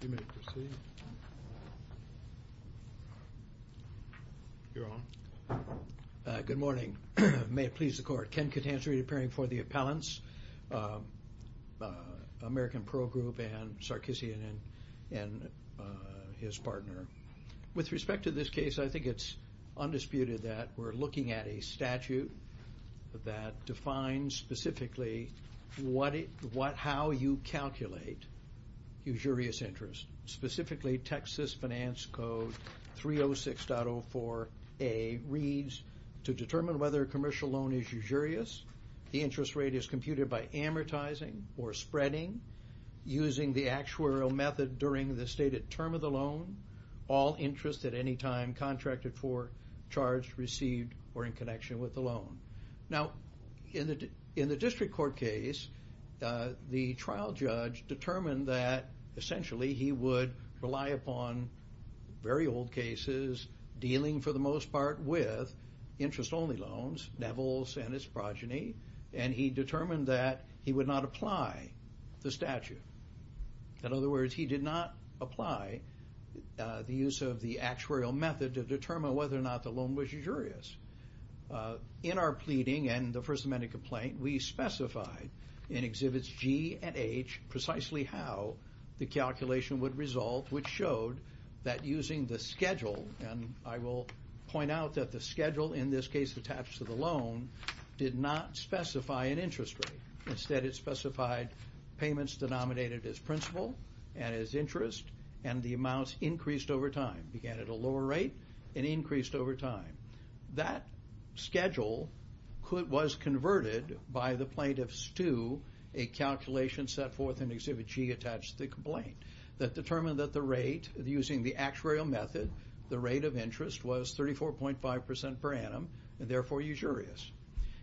Good morning. May it please the court. Ken Catanzari appearing for the appellants, American Pearl Grp and Sarkissian and his partner. With respect to this case, I think it's undisputed that we're looking at a statute that defines specifically how you calculate usurious interest. All interest at any time contracted for, charged, received, or in connection with the loan. Now, in the district court case, the trial judge determined that essentially he would rely upon very old cases, dealing for the most part with interest only loans, Nevels and its progeny, and he determined that he would not apply the statute. In other words, he did not apply the use of the actuarial method to determine whether or not the loan was usurious. In our pleading and the First Amendment complaint, we specified in Exhibits G and H precisely how the calculation would result, which showed that using the schedule, and I will point out that the schedule in this case attached to the loan, did not specify an interest rate. Instead, it specified payments denominated as principal and as interest, and the amounts increased over time, began at a lower rate and increased over time. That schedule was converted by the plaintiffs to a calculation set forth in Exhibit G attached to the complaint that determined that the rate, using the actuarial method, the rate of interest was 34.5% per annum, and therefore usurious.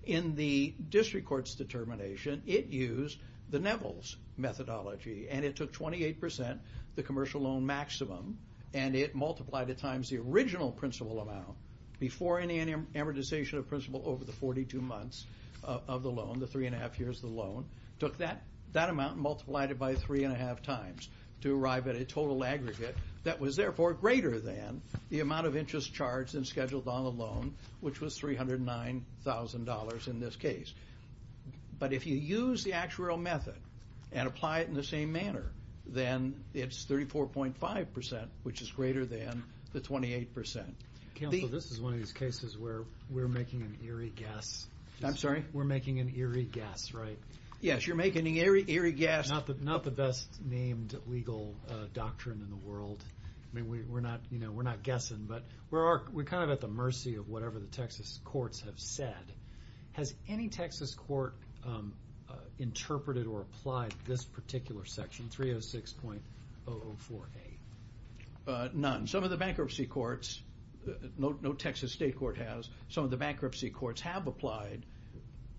In the district court's determination, it used the Nevels methodology, and it took 28%, the commercial loan maximum, and it multiplied at times the original principal amount, before any amortization of principal over the 42 months of the loan, the three and a half years of the loan, took that amount and multiplied it by three and a half times to arrive at a total aggregate that was therefore greater than the amount of interest charged and scheduled on the loan, which was $309,000. But if you use the actuarial method and apply it in the same manner, then it's 34.5%, which is greater than the 28%. Counsel, this is one of these cases where we're making an eerie guess. I'm sorry? We're making an eerie guess, right? Yes, you're making an eerie guess. Not the best named legal doctrine in the world. I mean, we're not guessing, but we're kind of at the mercy of whatever the Texas courts have said. Has any Texas court interpreted or applied this particular section, 306.004A? None. Some of the bankruptcy courts, no Texas state court has. Some of the bankruptcy courts have applied,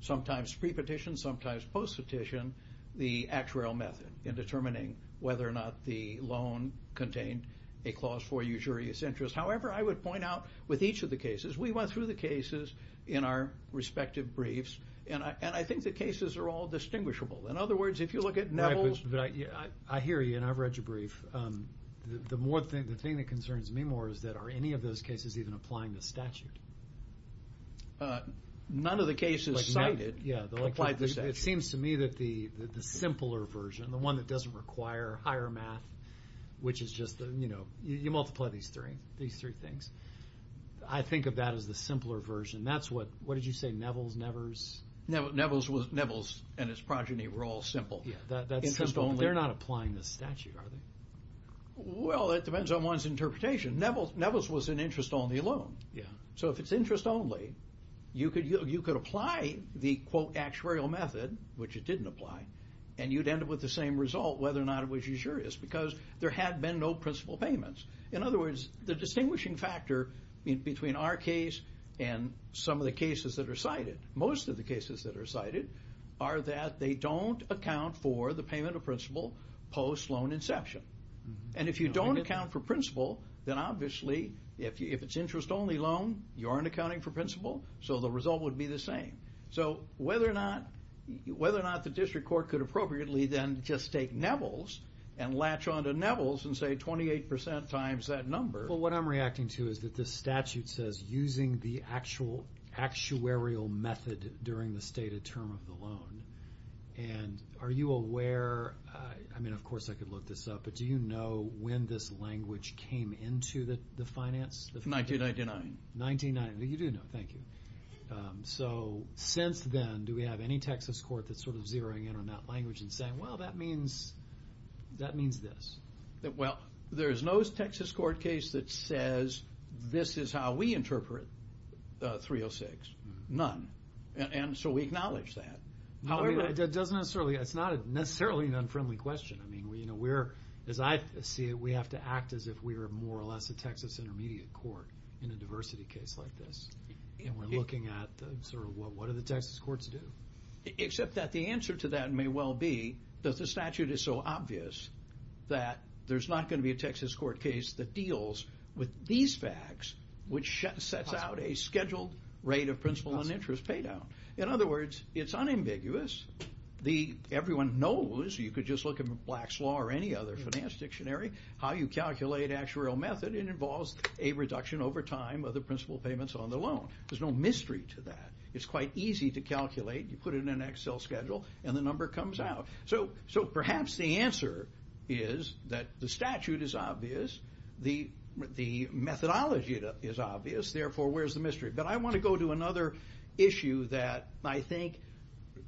sometimes pre-petition, sometimes post-petition, the actuarial method in determining whether or not the loan contained a clause for usurious interest. However, I would point out with each of the cases, we went through the cases in our respective briefs, and I think the cases are all distinguishable. In other words, if you look at Neville's… What concerns me more is that are any of those cases even applying the statute? None of the cases cited applied the statute. It seems to me that the simpler version, the one that doesn't require higher math, which is just, you know, you multiply these three things. I think of that as the simpler version. That's what, what did you say, Neville's, Nevers? Neville's and his progeny were all simple. They're not applying the statute, are they? Well, it depends on one's interpretation. Neville's was an interest-only loan. Yeah. So if it's interest-only, you could apply the, quote, actuarial method, which it didn't apply, and you'd end up with the same result, whether or not it was usurious, because there had been no principal payments. In other words, the distinguishing factor between our case and some of the cases that are cited, most of the cases that are cited, are that they don't account for the payment of principal post-loan inception. And if you don't account for principal, then obviously, if it's interest-only loan, you aren't accounting for principal, so the result would be the same. So whether or not the district court could appropriately then just take Neville's and latch onto Neville's and say 28% times that number. Well, what I'm reacting to is that the statute says using the actual actuarial method during the stated term of the loan. And are you aware, I mean, of course, I could look this up, but do you know when this language came into the finance? 1999. 1999. You do know, thank you. So since then, do we have any Texas court that's sort of zeroing in on that language and saying, well, that means this. Well, there's no Texas court case that says this is how we interpret 306. None. And so we acknowledge that. However, it doesn't necessarily, it's not necessarily an unfriendly question. I mean, we're, as I see it, we have to act as if we were more or less a Texas intermediate court in a diversity case like this. And we're looking at sort of what do the Texas courts do? Except that the answer to that may well be that the statute is so obvious that there's not going to be a Texas court case that deals with these facts, which sets out a scheduled rate of principal and interest pay down. In other words, it's unambiguous. Everyone knows, you could just look in Black's Law or any other finance dictionary, how you calculate actuarial method. It involves a reduction over time of the principal payments on the loan. There's no mystery to that. It's quite easy to calculate. You put it in an Excel schedule, and the number comes out. So perhaps the answer is that the statute is obvious. Therefore, where's the mystery? But I want to go to another issue that I think,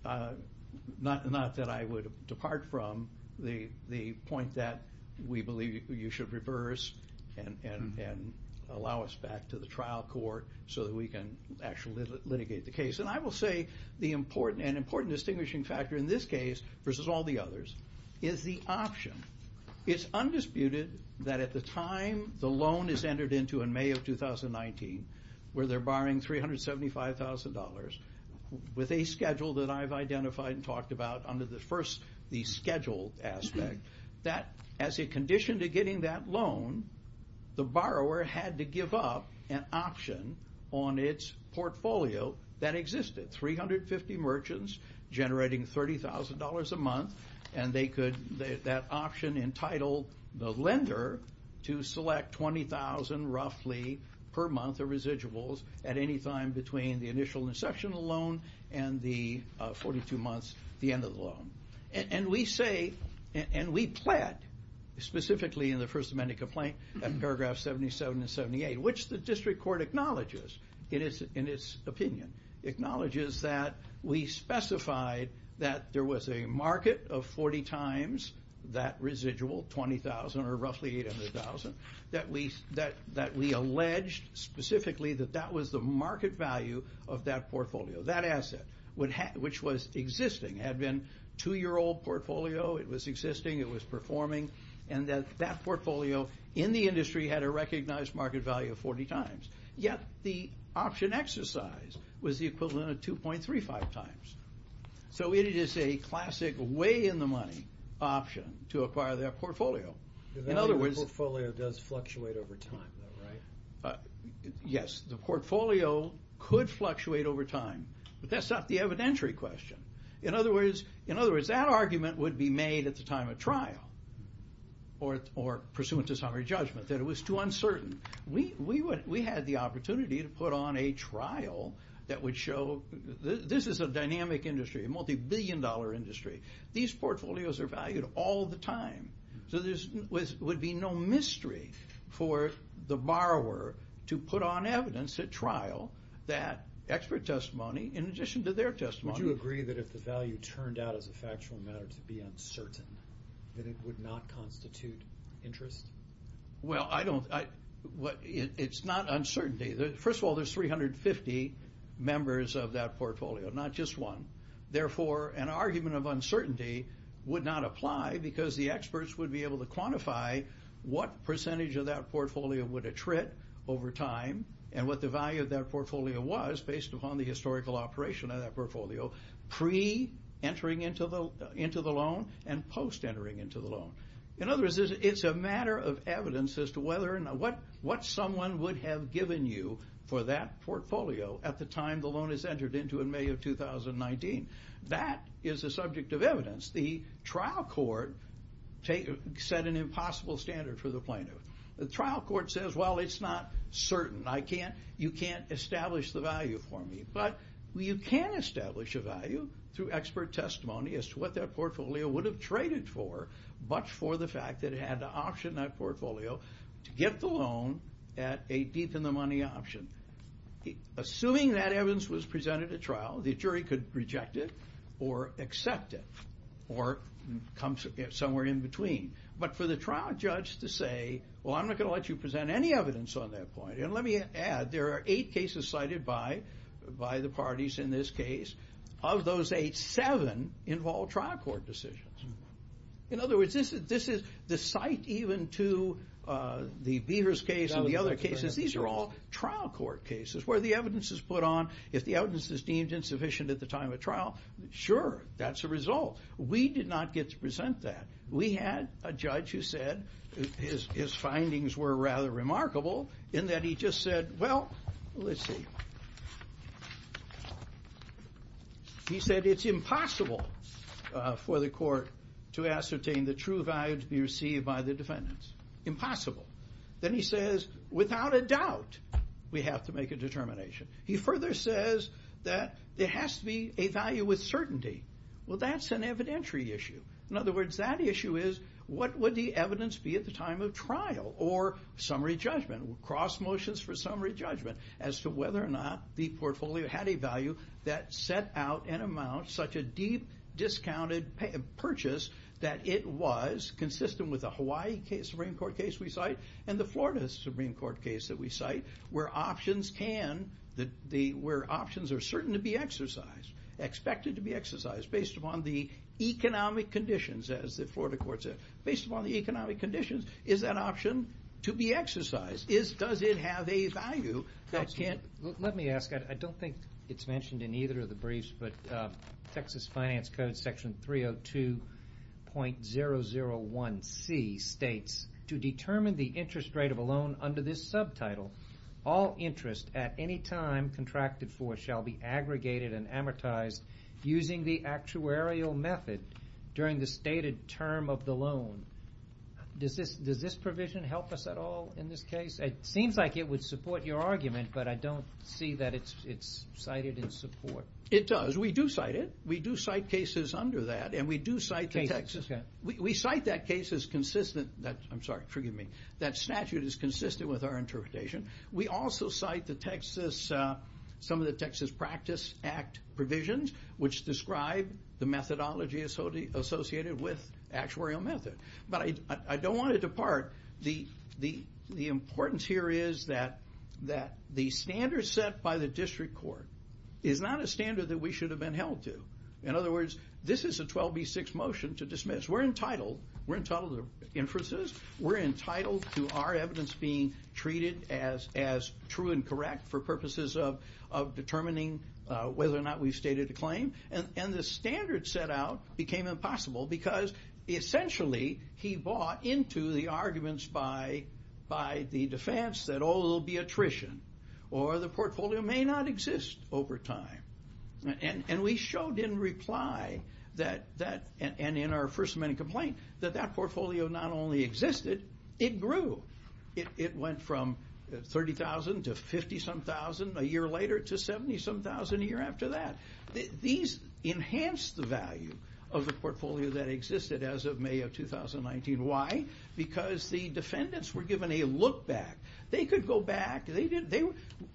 not that I would depart from, the point that we believe you should reverse and allow us back to the trial court so that we can actually litigate the case. And I will say an important distinguishing factor in this case versus all the others is the option. It's undisputed that at the time the loan is entered into in May of 2019, where they're borrowing $375,000, with a schedule that I've identified and talked about under the schedule aspect, that as a condition to getting that loan, the borrower had to give up an option on its portfolio that existed. They had 350 merchants generating $30,000 a month. And they could, that option entitled the lender to select 20,000 roughly per month of residuals at any time between the initial inception of the loan and the 42 months, the end of the loan. And we say, and we pled, specifically in the First Amendment complaint, in paragraph 77 and 78, which the district court acknowledges in its opinion, acknowledges that we specified that there was a market of 40 times that residual, 20,000 or roughly 800,000, that we alleged specifically that that was the market value of that portfolio. That asset, which was existing, had been a two-year-old portfolio. It was existing, it was performing. And that that portfolio in the industry had a recognized market value of 40 times. Yet the option exercise was the equivalent of 2.35 times. So it is a classic way-in-the-money option to acquire that portfolio. In other words... The value of the portfolio does fluctuate over time, though, right? Yes, the portfolio could fluctuate over time. But that's not the evidentiary question. In other words, that argument would be made at the time of trial, or pursuant to summary judgment, that it was too uncertain. We had the opportunity to put on a trial that would show this is a dynamic industry, a multibillion-dollar industry. These portfolios are valued all the time. So there would be no mystery for the borrower to put on evidence at trial that expert testimony in addition to their testimony. Would you agree that if the value turned out as a factual matter to be uncertain, that it would not constitute interest? Well, I don't... It's not uncertainty. First of all, there's 350 members of that portfolio, not just one. Therefore, an argument of uncertainty would not apply because the experts would be able to quantify what percentage of that portfolio would attrit over time and what the value of that portfolio was based upon the historical operation of that portfolio pre-entering into the loan and post-entering into the loan. In other words, it's a matter of evidence as to what someone would have given you for that portfolio at the time the loan is entered into in May of 2019. That is a subject of evidence. The trial court set an impossible standard for the plaintiff. The trial court says, well, it's not certain. You can't establish the value for me. But you can establish a value through expert testimony as to what that portfolio would have traded for, much for the fact that it had to auction that portfolio to get the loan at a deep in the money option. Assuming that evidence was presented at trial, the jury could reject it or accept it or come somewhere in between. But for the trial judge to say, well, I'm not going to let you present any evidence on that point. And let me add, there are eight cases cited by the parties in this case. Of those eight, seven involve trial court decisions. In other words, this is the site even to the Beavers case and the other cases. These are all trial court cases where the evidence is put on. If the evidence is deemed insufficient at the time of trial, sure, that's a result. We did not get to present that. We had a judge who said his findings were rather remarkable in that he just said, well, let's see. He said it's impossible for the court to ascertain the true value to be received by the defendants. Impossible. Then he says, without a doubt, we have to make a determination. He further says that there has to be a value with certainty. Well, that's an evidentiary issue. In other words, that issue is, what would the evidence be at the time of trial? Or summary judgment? Cross motions for summary judgment as to whether or not the portfolio had a value that set out an amount, such a deep discounted purchase, that it was consistent with the Hawaii Supreme Court case we cite and the Florida Supreme Court case that we cite, where options are certain to be exercised, expected to be exercised, based upon the economic conditions, as the Florida court said. Based upon the economic conditions, is that option to be exercised? Does it have a value? Let me ask. I don't think it's mentioned in either of the briefs, but Texas Finance Code Section 302.001C states, to determine the interest rate of a loan under this subtitle, all interest at any time contracted for shall be aggregated and amortized using the actuarial method during the stated term of the loan. Does this provision help us at all in this case? It seems like it would support your argument, but I don't see that it's cited in support. It does. We do cite it. We do cite cases under that, and we do cite the Texas. We cite that case as consistent. I'm sorry, forgive me. That statute is consistent with our interpretation. We also cite some of the Texas Practice Act provisions, which describe the methodology associated with actuarial method. But I don't want to depart. The importance here is that the standards set by the district court is not a standard that we should have been held to. In other words, this is a 12B6 motion to dismiss. We're entitled. We're entitled to the inferences. We're entitled to our evidence being treated as true and correct for purposes of determining whether or not we've stated a claim. And the standards set out became impossible because, essentially, he bought into the arguments by the defense that, oh, it'll be attrition, or the portfolio may not exist over time. And we showed in reply that, and in our first amendment complaint, that that portfolio not only existed, it grew. It went from 30,000 to 50-some thousand a year later to 70-some thousand a year after that. These enhanced the value of the portfolio that existed as of May of 2019. Why? Because the defendants were given a look back. They could go back.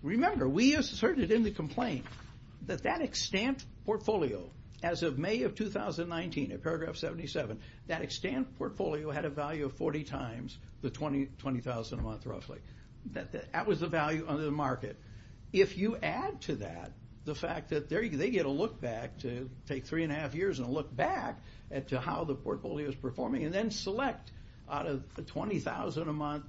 Remember, we asserted in the complaint that that extant portfolio, as of May of 2019, in paragraph 77, that extant portfolio had a value of 40 times the 20,000 a month, roughly. That was the value under the market. If you add to that the fact that they get a look back to take three and a half years and a look back at how the portfolio is performing and then select out of the 20,000 a month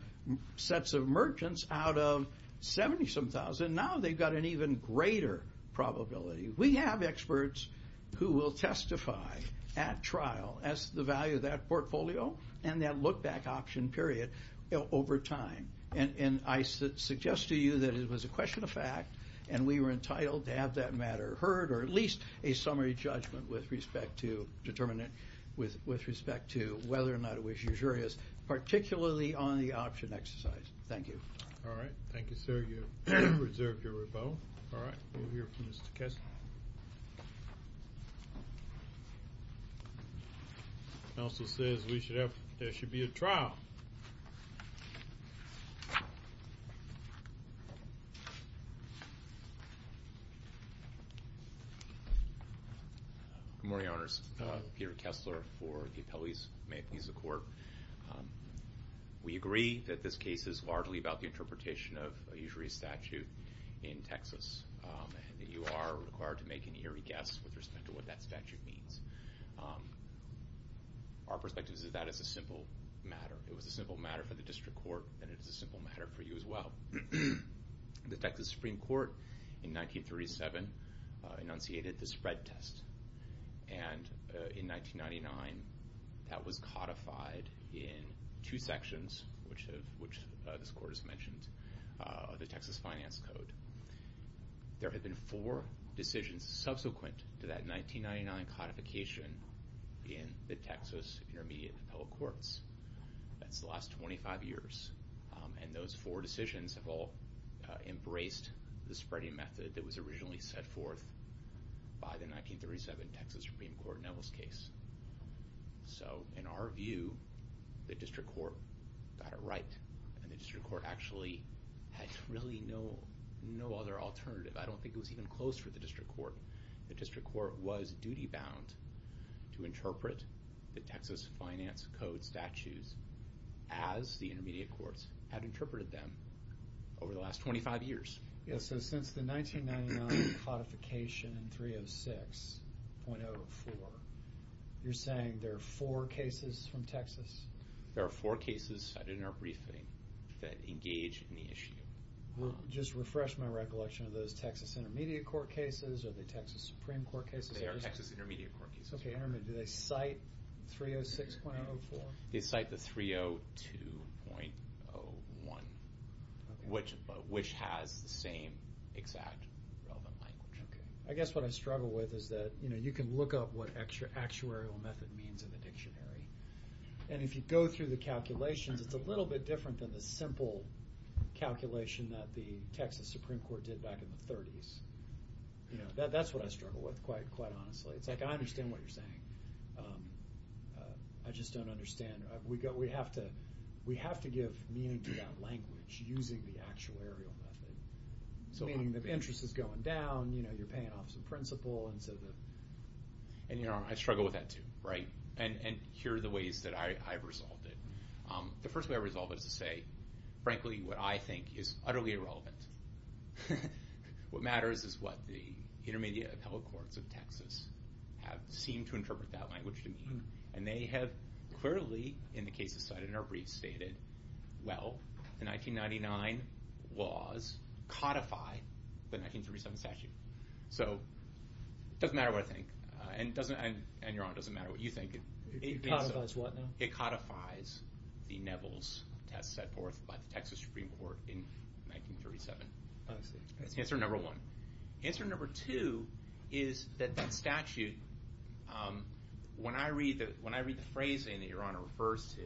sets of merchants out of 70-some thousand, now they've got an even greater probability. We have experts who will testify at trial as to the value of that portfolio and that look back option period over time. And I suggest to you that it was a question of fact and we were entitled to have that matter heard or at least a summary judgment with respect to whether or not it was usurious, particularly on the option exercise. Thank you. All right. Thank you, sir. You've reserved your rebuttal. All right. We'll hear from Mr. Kessler. Counsel says there should be a trial. Good morning, Your Honors. Peter Kessler for the appellees. May it please the Court. We agree that this case is largely about the interpretation of a usury statute in Texas and that you are required to make an eerie guess with respect to what that statute means. Our perspective is that it's a simple matter. It was a simple matter for the district court and it is a simple matter for you as well. The Texas Supreme Court in 1937 enunciated the spread test, and in 1999 that was codified in two sections, which this Court has mentioned, of the Texas Finance Code. There have been four decisions subsequent to that 1999 codification in the Texas Intermediate Appellate Courts. That's the last 25 years, and those four decisions have all embraced the spreading method that was originally set forth by the 1937 Texas Supreme Court Nellis case. So in our view, the district court got it right, and the district court actually had really no other alternative. I don't think it was even close for the district court. The district court was duty-bound to interpret the Texas Finance Code statutes as the intermediate courts had interpreted them over the last 25 years. So since the 1999 codification in 306.04, you're saying there are four cases from Texas? There are four cases cited in our briefing that engage in the issue. Just to refresh my recollection, are those Texas Intermediate Court cases or the Texas Supreme Court cases? They are Texas Intermediate Court cases. Okay, and do they cite 306.04? They cite the 302.01, which has the same exact relevant language. Okay. I guess what I struggle with is that you can look up what actuarial method means in the dictionary, and if you go through the calculations, it's a little bit different than the simple calculation that the Texas Supreme Court did back in the 30s. That's what I struggle with, quite honestly. It's like I understand what you're saying. I just don't understand. We have to give meaning to that language using the actuarial method, meaning the interest is going down, you're paying off some principal. I struggle with that, too. And here are the ways that I've resolved it. The first way I resolve it is to say, frankly, what I think is utterly irrelevant. What matters is what the Intermediate Appellate Courts of Texas seem to interpret that language to mean. And they have clearly, in the cases cited in our brief, stated, well, the 1999 laws codify the 1937 statute. So it doesn't matter what I think, and Your Honor, it doesn't matter what you think. It codifies what now? It codifies the Neville's test set forth by the Texas Supreme Court in 1937. That's answer number one. Answer number two is that that statute, when I read the phrasing that Your Honor refers to,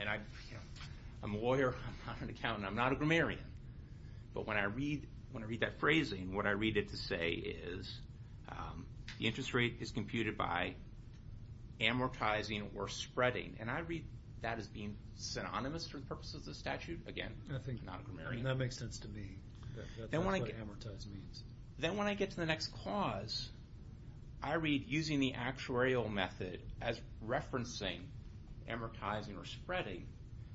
and I'm a lawyer, I'm not an accountant, I'm not a grammarian, but when I read that phrasing, what I read it to say is, the interest rate is computed by amortizing or spreading. And I read that as being synonymous for the purposes of the statute. Again, I'm not a grammarian. That makes sense to me. That's what amortize means. Then when I get to the next clause, I read using the actuarial method as referencing amortizing or spreading,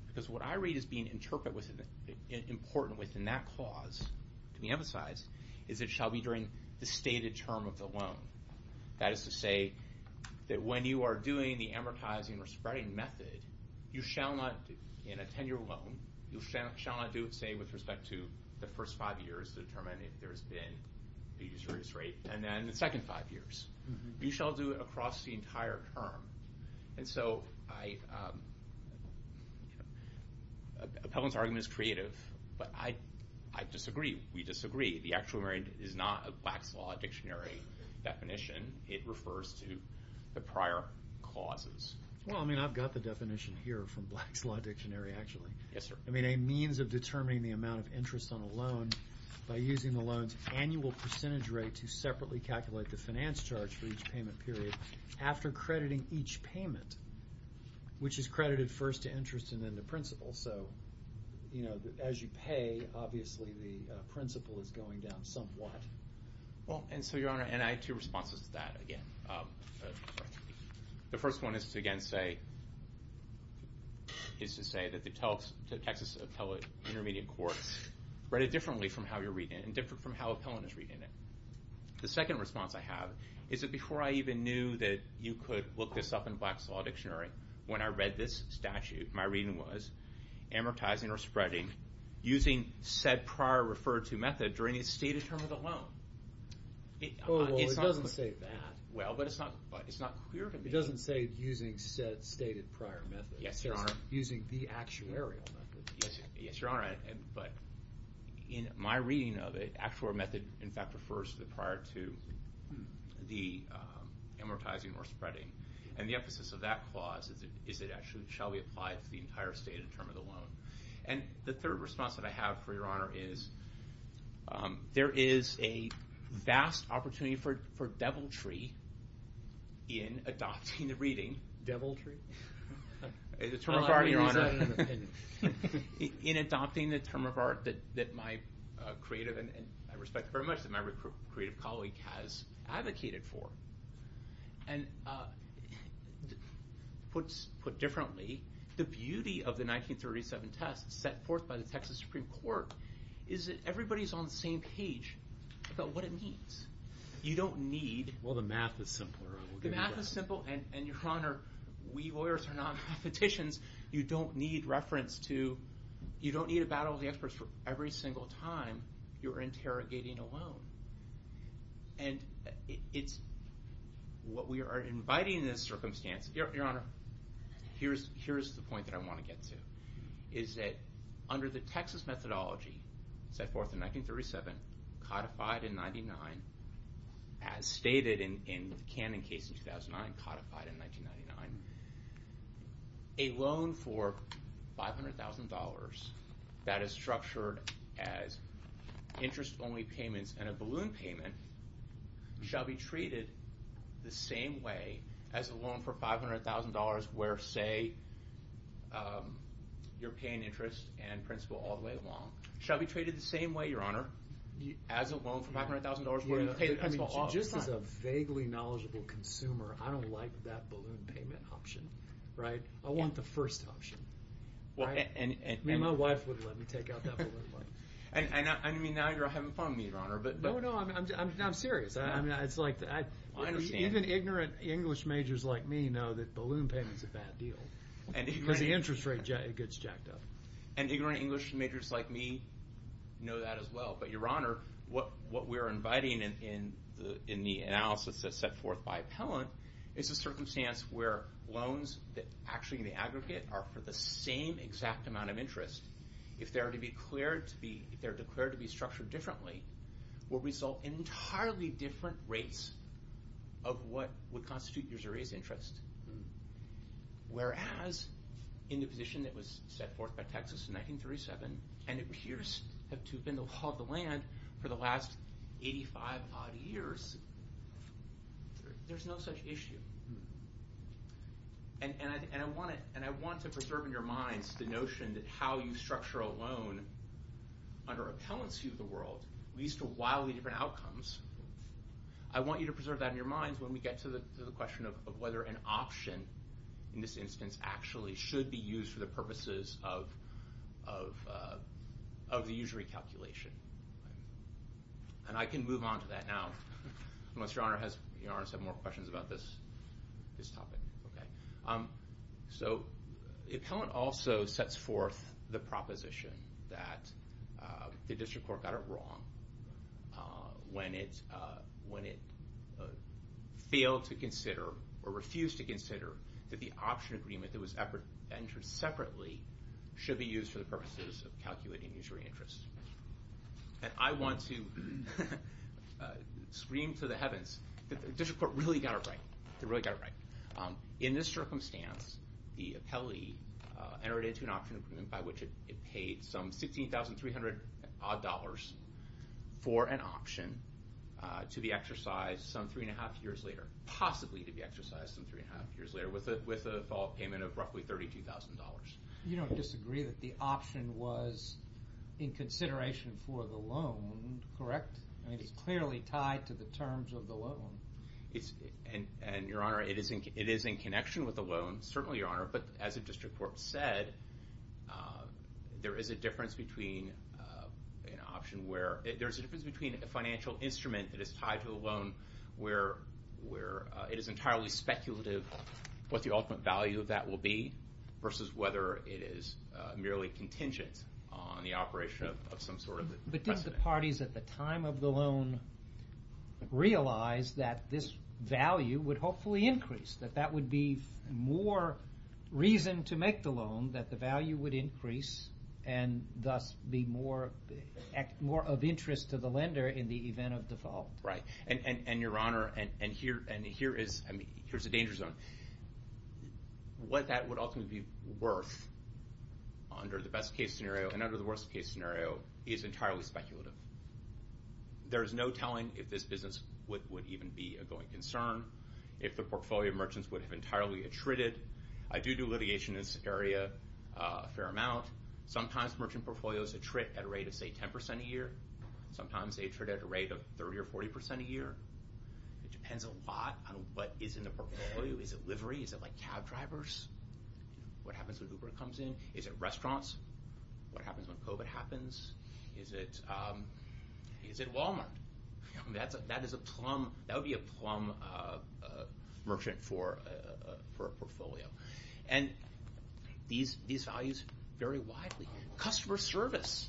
because what I read as being important within that clause, to be emphasized, is it shall be during the stated term of the loan. That is to say that when you are doing the amortizing or spreading method, you shall not, in a 10-year loan, you shall not do it, say, with respect to the first five years to determine if there has been an interest rate, and then the second five years. You shall do it across the entire term. And so, Pevelin's argument is creative, but I disagree. We disagree. The actuarial method is not a Black's Law Dictionary definition. It refers to the prior clauses. Well, I mean, I've got the definition here from Black's Law Dictionary, actually. Yes, sir. I mean, a means of determining the amount of interest on a loan by using the loan's annual percentage rate to separately calculate the finance charge for each payment period after crediting each payment, which is credited first to interest and then the principal. So, you know, as you pay, obviously, the principal is going down somewhat. Well, and so, Your Honor, and I have two responses to that, again. The first one is to, again, say that the Texas Appellate Intermediate Court read it differently from how you're reading it and different from how Pevelin is reading it. The second response I have is that before I even knew that you could look this up in Black's Law Dictionary, when I read this statute, my reading was, amortizing or spreading using said prior referred-to method during the stated term of the loan. Oh, well, it doesn't say that. Well, but it's not clear to me. It doesn't say using said stated prior method. Yes, Your Honor. It says using the actuarial method. Yes, Your Honor, but in my reading of it, that refers to the prior to the amortizing or spreading. And the emphasis of that clause is it actually shall be applied to the entire stated term of the loan. And the third response that I have for Your Honor is there is a vast opportunity for deviltry in adopting the reading. Deviltry? The term of art, Your Honor. In adopting the term of art that my creative, and I respect very much that my creative colleague has advocated for. And put differently, the beauty of the 1937 test set forth by the Texas Supreme Court is that everybody's on the same page about what it means. You don't need... Well, the math is simpler. The math is simple, and Your Honor, we lawyers are not petitions. You don't need reference to, you don't need a battle of the experts for every single time you're interrogating a loan. And what we are inviting in this circumstance, Your Honor, here's the point that I want to get to, is that under the Texas methodology set forth in 1937, codified in 99, as stated in the Cannon case in 2009, codified in 1999, a loan for $500,000 that is structured as interest-only payments and a balloon payment shall be treated the same way as a loan for $500,000 where, say, you're paying interest and principal all the way along, shall be treated the same way, Your Honor, as a loan for $500,000 where you pay the principal all the time. Just as a vaguely knowledgeable consumer, I don't like that balloon payment option, right? I want the first option. And my wife would let me take out that balloon money. I mean, now you're having fun with me, Your Honor. No, no, I'm serious. It's like even ignorant English majors like me know that balloon payment's a bad deal because the interest rate gets jacked up. And ignorant English majors like me know that as well. But, Your Honor, what we're inviting in the analysis that's set forth by Appellant is a circumstance where loans that actually in the aggregate are for the same exact amount of interest, if they're declared to be structured differently, will result in entirely different rates of what would constitute your jury's interest. Whereas in the position that was set forth by Texas in 1937 and appears to have been the law of the land for the last 85-odd years, there's no such issue. And I want to preserve in your minds the notion that how you structure a loan under Appellant's view of the world leads to wildly different outcomes. I want you to preserve that in your minds when we get to the question of whether an option in this instance actually should be used for the purposes of the usury calculation. And I can move on to that now, unless Your Honor has more questions about this topic. So Appellant also sets forth the proposition that the District Court got it wrong when it failed to consider or refused to consider that the option agreement that was entered separately should be used for the purposes of calculating usury interest. And I want to scream to the heavens that the District Court really got it right. They really got it right. In this circumstance, the appellee entered into an option agreement by which it paid some $16,300-odd for an option to be exercised some three and a half years later, possibly to be exercised some three and a half years later, with a default payment of roughly $32,000. You don't disagree that the option was in consideration for the loan, correct? I mean, it's clearly tied to the terms of the loan. And, Your Honor, it is in connection with the loan, certainly, Your Honor, but as the District Court said, there is a difference between an option where... There's a difference between a financial instrument that is tied to a loan where it is entirely speculative what the ultimate value of that will be versus whether it is merely contingent on the operation of some sort of precedent. But did the parties at the time of the loan realize that this value would hopefully increase, that that would be more reason to make the loan, that the value would increase and thus be more of interest to the lender in the event of default? Right. And, Your Honor, and here's a danger zone. What that would ultimately be worth, under the best-case scenario and under the worst-case scenario, is entirely speculative. There is no telling if this business would even be a going concern, if the portfolio of merchants would have entirely attrited. I do do litigation in this area a fair amount. Sometimes merchant portfolios attrit at a rate of, say, 10% a year. It depends a lot on what is in the portfolio. Is it livery? Is it like cab drivers? What happens when Uber comes in? Is it restaurants? What happens when COVID happens? Is it Walmart? That is a plum... That would be a plum merchant for a portfolio. And these values vary widely. Customer service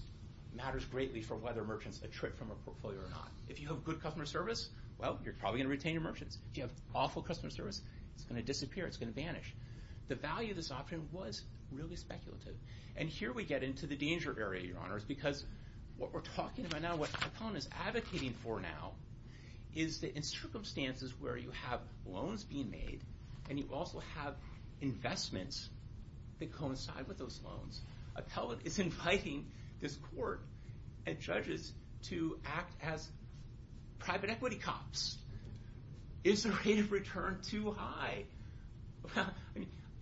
matters greatly for whether merchants attrit from a portfolio or not. If you have good customer service, well, you're probably going to retain your merchants. If you have awful customer service, it's going to disappear. It's going to vanish. The value of this option was really speculative. And here we get into the danger area, Your Honors, because what we're talking about now, what Apellon is advocating for now, is that in circumstances where you have loans being made and you also have investments that coincide with those loans, Appellant is inviting this court and judges to act as private equity cops. Is the rate of return too high?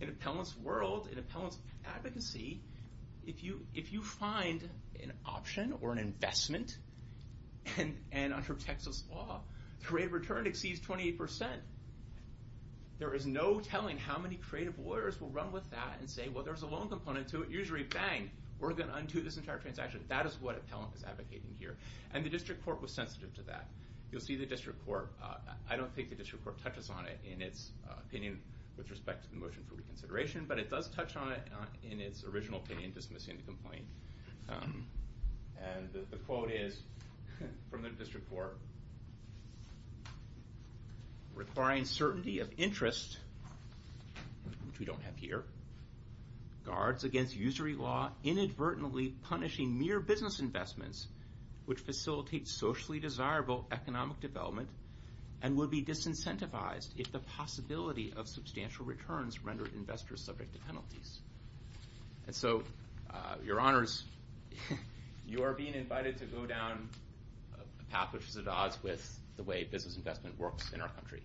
In Appellant's world, in Appellant's advocacy, if you find an option or an investment, and under Texas law, the rate of return exceeds 28%. There is no telling how many creative lawyers will run with that and say, well, there's a loan component to it. Usually, bang, we're going to undo this entire transaction. That is what Appellant is advocating here. And the district court was sensitive to that. You'll see the district court, I don't think the district court touches on it in its opinion with respect to the motion for reconsideration, but it does touch on it in its original opinion dismissing the complaint. And the quote is from the district court, requiring certainty of interest, which we don't have here, guards against usury law inadvertently punishing mere business investments which facilitate socially desirable economic development and would be disincentivized if the possibility of substantial returns rendered investors subject to penalties. And so, your honors, you are being invited to go down a path which is at odds with the way business investment works in our country.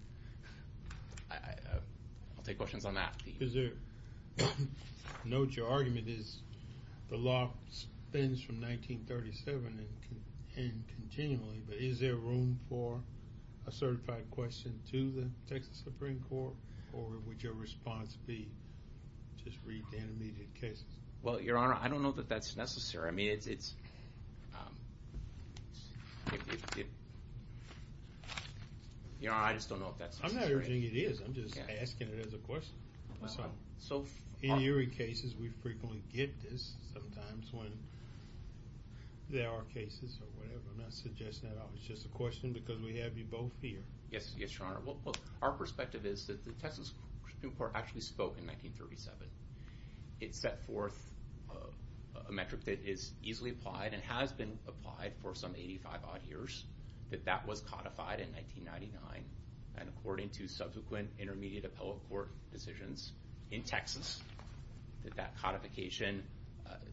I'll take questions on that. Is there... I note your argument is the law spins from 1937 and continually, but is there room for a certified question to the Texas Supreme Court? Or would your response be just read the intermediate cases? Well, your honor, I don't know that that's necessary. I mean, it's... It... Your honor, I just don't know if that's necessary. I'm not urging it is. I'm just asking it as a question. In eerie cases, we frequently get this. Sometimes when there are cases or whatever, I'm not suggesting at all. It's just a question because we have you both here. Yes, your honor. Our perspective is that the Texas Supreme Court actually spoke in 1937. It set forth a metric that is easily applied and has been applied for some 85-odd years. That that was codified in 1999. And according to subsequent intermediate appellate court decisions in Texas, that that codification...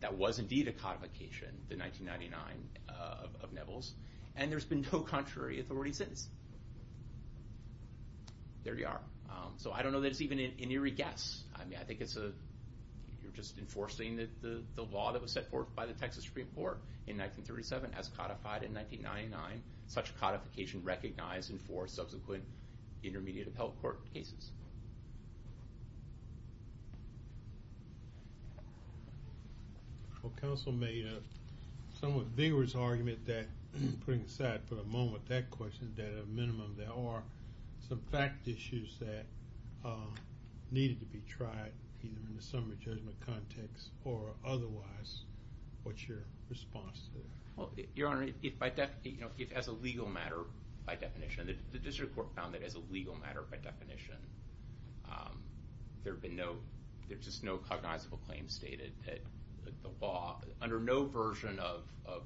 That was indeed a codification, the 1999 of Nevels. And there's been no contrary authority since. There you are. So I don't know that it's even an eerie guess. I mean, I think it's a... You're just enforcing the law that was set forth by the Texas Supreme Court in 1937 as codified in 1999. Such codification recognized in four subsequent intermediate appellate court cases. Well, counsel made a somewhat vigorous argument that, putting aside for a moment that question, that at a minimum there are some fact issues that needed to be tried either in the summary judgment context or otherwise. What's your response to that? Your Honor, if by definition... As a legal matter, by definition, the district court found that as a legal matter, by definition, there have been no... There's just no cognizable claim stated that the law, under no version of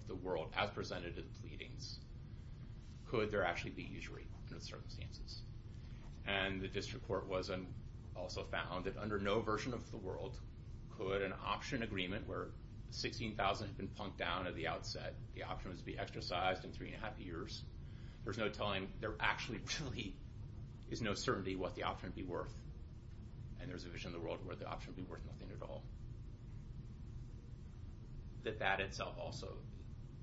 the world, as presented in the pleadings, could there actually be use rate under the circumstances. And the district court was... Also found that under no version of the world could an option agreement where 16,000 had been punked down at the outset, the option was to be exercised in three and a half years, there's no telling... There actually really is no certainty what the option would be worth. And there's a vision of the world where the option would be worth nothing at all. That that itself also,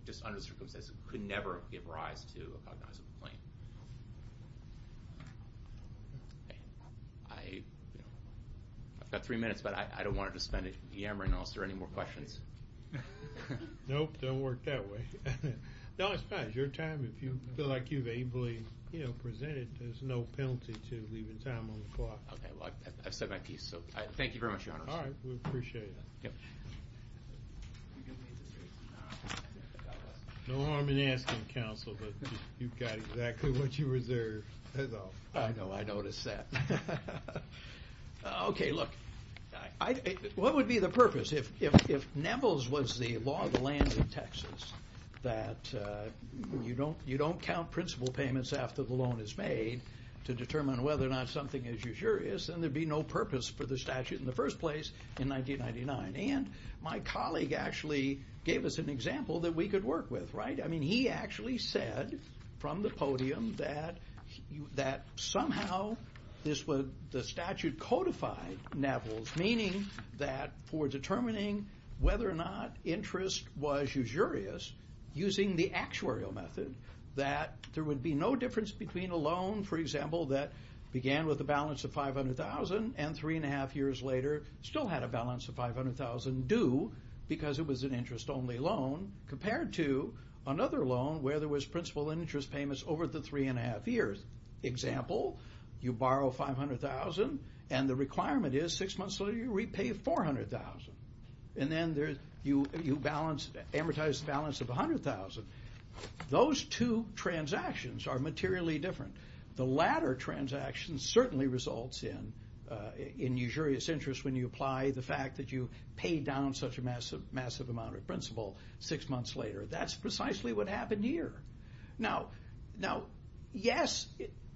just under circumstances, could never give rise to a cognizable claim. I... I've got three minutes, but I don't want to just spend it yammering unless there are any more questions. Nope, don't work that way. No, it's fine. It's your time. If you feel like you've ably presented, there's no penalty to leaving time on the clock. Okay, well, I've said my piece, so thank you very much, Your Honor. All right, we appreciate it. No harm in asking, Counsel, but you've got exactly what you reserved. I know, I noticed that. Okay, look, what would be the purpose? If Neville's was the law of the land in Texas, that you don't count principal payments after the loan is made to determine whether or not something is usurious, then there'd be no purpose for the statute in the first place in 1999. And my colleague actually gave us an example that we could work with, right? I mean, he actually said from the podium that somehow the statute codified Neville's, meaning that for determining whether or not interest was usurious using the actuarial method, that there would be no difference between a loan, for example, that began with a balance of $500,000 and 3 1⁄2 years later still had a balance of $500,000 due because it was an interest-only loan compared to another loan where there was principal interest payments over the 3 1⁄2 years. Example, you borrow $500,000 and the requirement is six months later you repay $400,000. And then you amortize the balance of $100,000. Those two transactions are materially different. The latter transaction certainly results in usurious interest when you apply the fact that you paid down such a massive amount of principal six months later. That's precisely what happened here. Now, yes,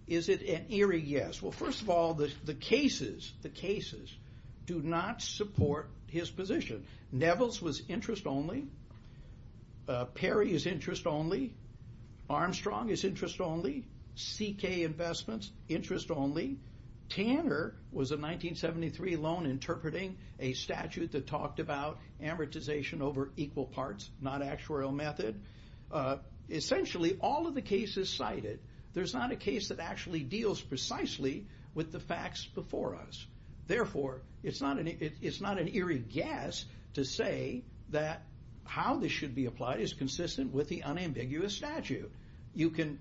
is it an eerie yes? Well, first of all, the cases do not support his position. Neville's was interest-only. Perry is interest-only. Armstrong is interest-only. CK Investments, interest-only. Tanner was a 1973 loan interpreting a statute that talked about amortization over equal parts, not actuarial method. Essentially, all of the cases cited, there's not a case that actually deals precisely with the facts before us. Therefore, it's not an eerie guess to say that how this should be applied is consistent with the unambiguous statute. You can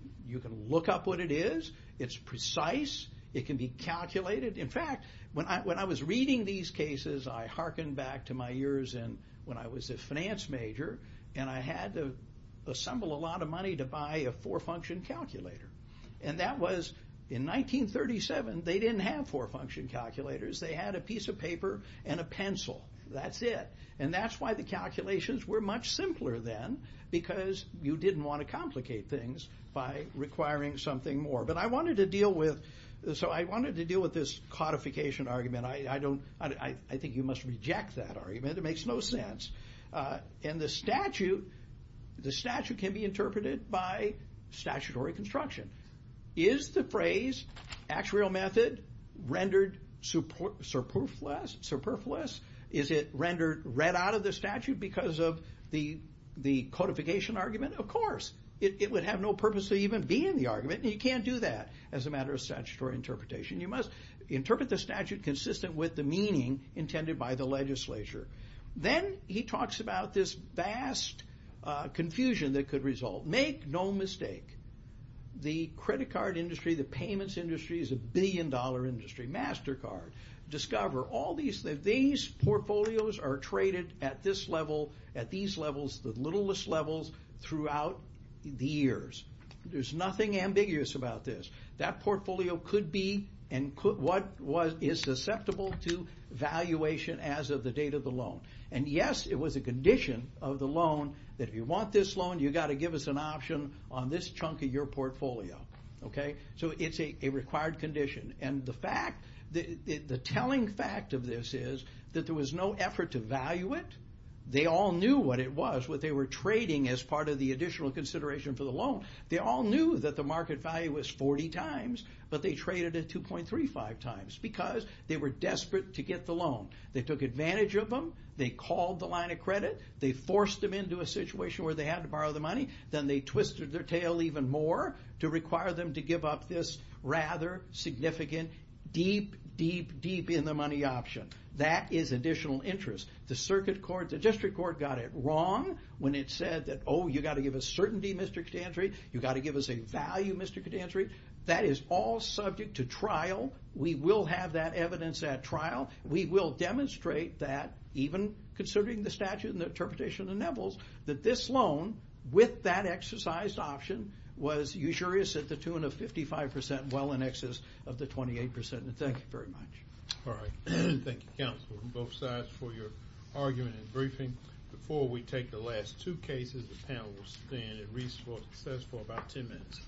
look up what it is. It's precise. It can be calculated. In fact, when I was reading these cases, I hearkened back to my years when I was a finance major, and I had to assemble a lot of money to buy a four-function calculator. And that was in 1937. They didn't have four-function calculators. They had a piece of paper and a pencil. That's it. And that's why the calculations were much simpler then, because you didn't want to complicate things by requiring something more. But I wanted to deal with this codification argument. And I think you must reject that argument. It makes no sense. And the statute can be interpreted by statutory construction. Is the phrase actuarial method rendered superfluous? Is it rendered red out of the statute because of the codification argument? Of course. It would have no purpose of even being the argument, and you can't do that as a matter of statutory interpretation. You must interpret the statute consistent with the meaning intended by the legislature. Then he talks about this vast confusion that could result. Make no mistake. The credit card industry, the payments industry, is a billion-dollar industry. MasterCard, Discover, all these portfolios are traded at these levels, the littlest levels, throughout the years. There's nothing ambiguous about this. That portfolio could be what is susceptible to valuation as of the date of the loan. And yes, it was a condition of the loan that if you want this loan, you've got to give us an option on this chunk of your portfolio. So it's a required condition. And the telling fact of this is that there was no effort to value it. They all knew what it was, what they were trading as part of the additional consideration for the loan. They all knew that the market value was 40 times, but they traded it 2.35 times because they were desperate to get the loan. They took advantage of them. They called the line of credit. They forced them into a situation where they had to borrow the money. Then they twisted their tail even more to require them to give up this rather significant, deep, deep, deep-in-the-money option. That is additional interest. The circuit court, the district court got it wrong when it said that, oh, you've got to give us certainty, Mr. Cotantri. You've got to give us a value, Mr. Cotantri. That is all subject to trial. We will have that evidence at trial. We will demonstrate that, even considering the statute and the interpretation of the Nevels, that this loan, with that exercised option, was usurious at the tune of 55%, well in excess of the 28%. And thank you very much. All right. Thank you, counsel, from both sides, for your argument and briefing. Before we take the last two cases, the panel will stand and recess for about 10 minutes.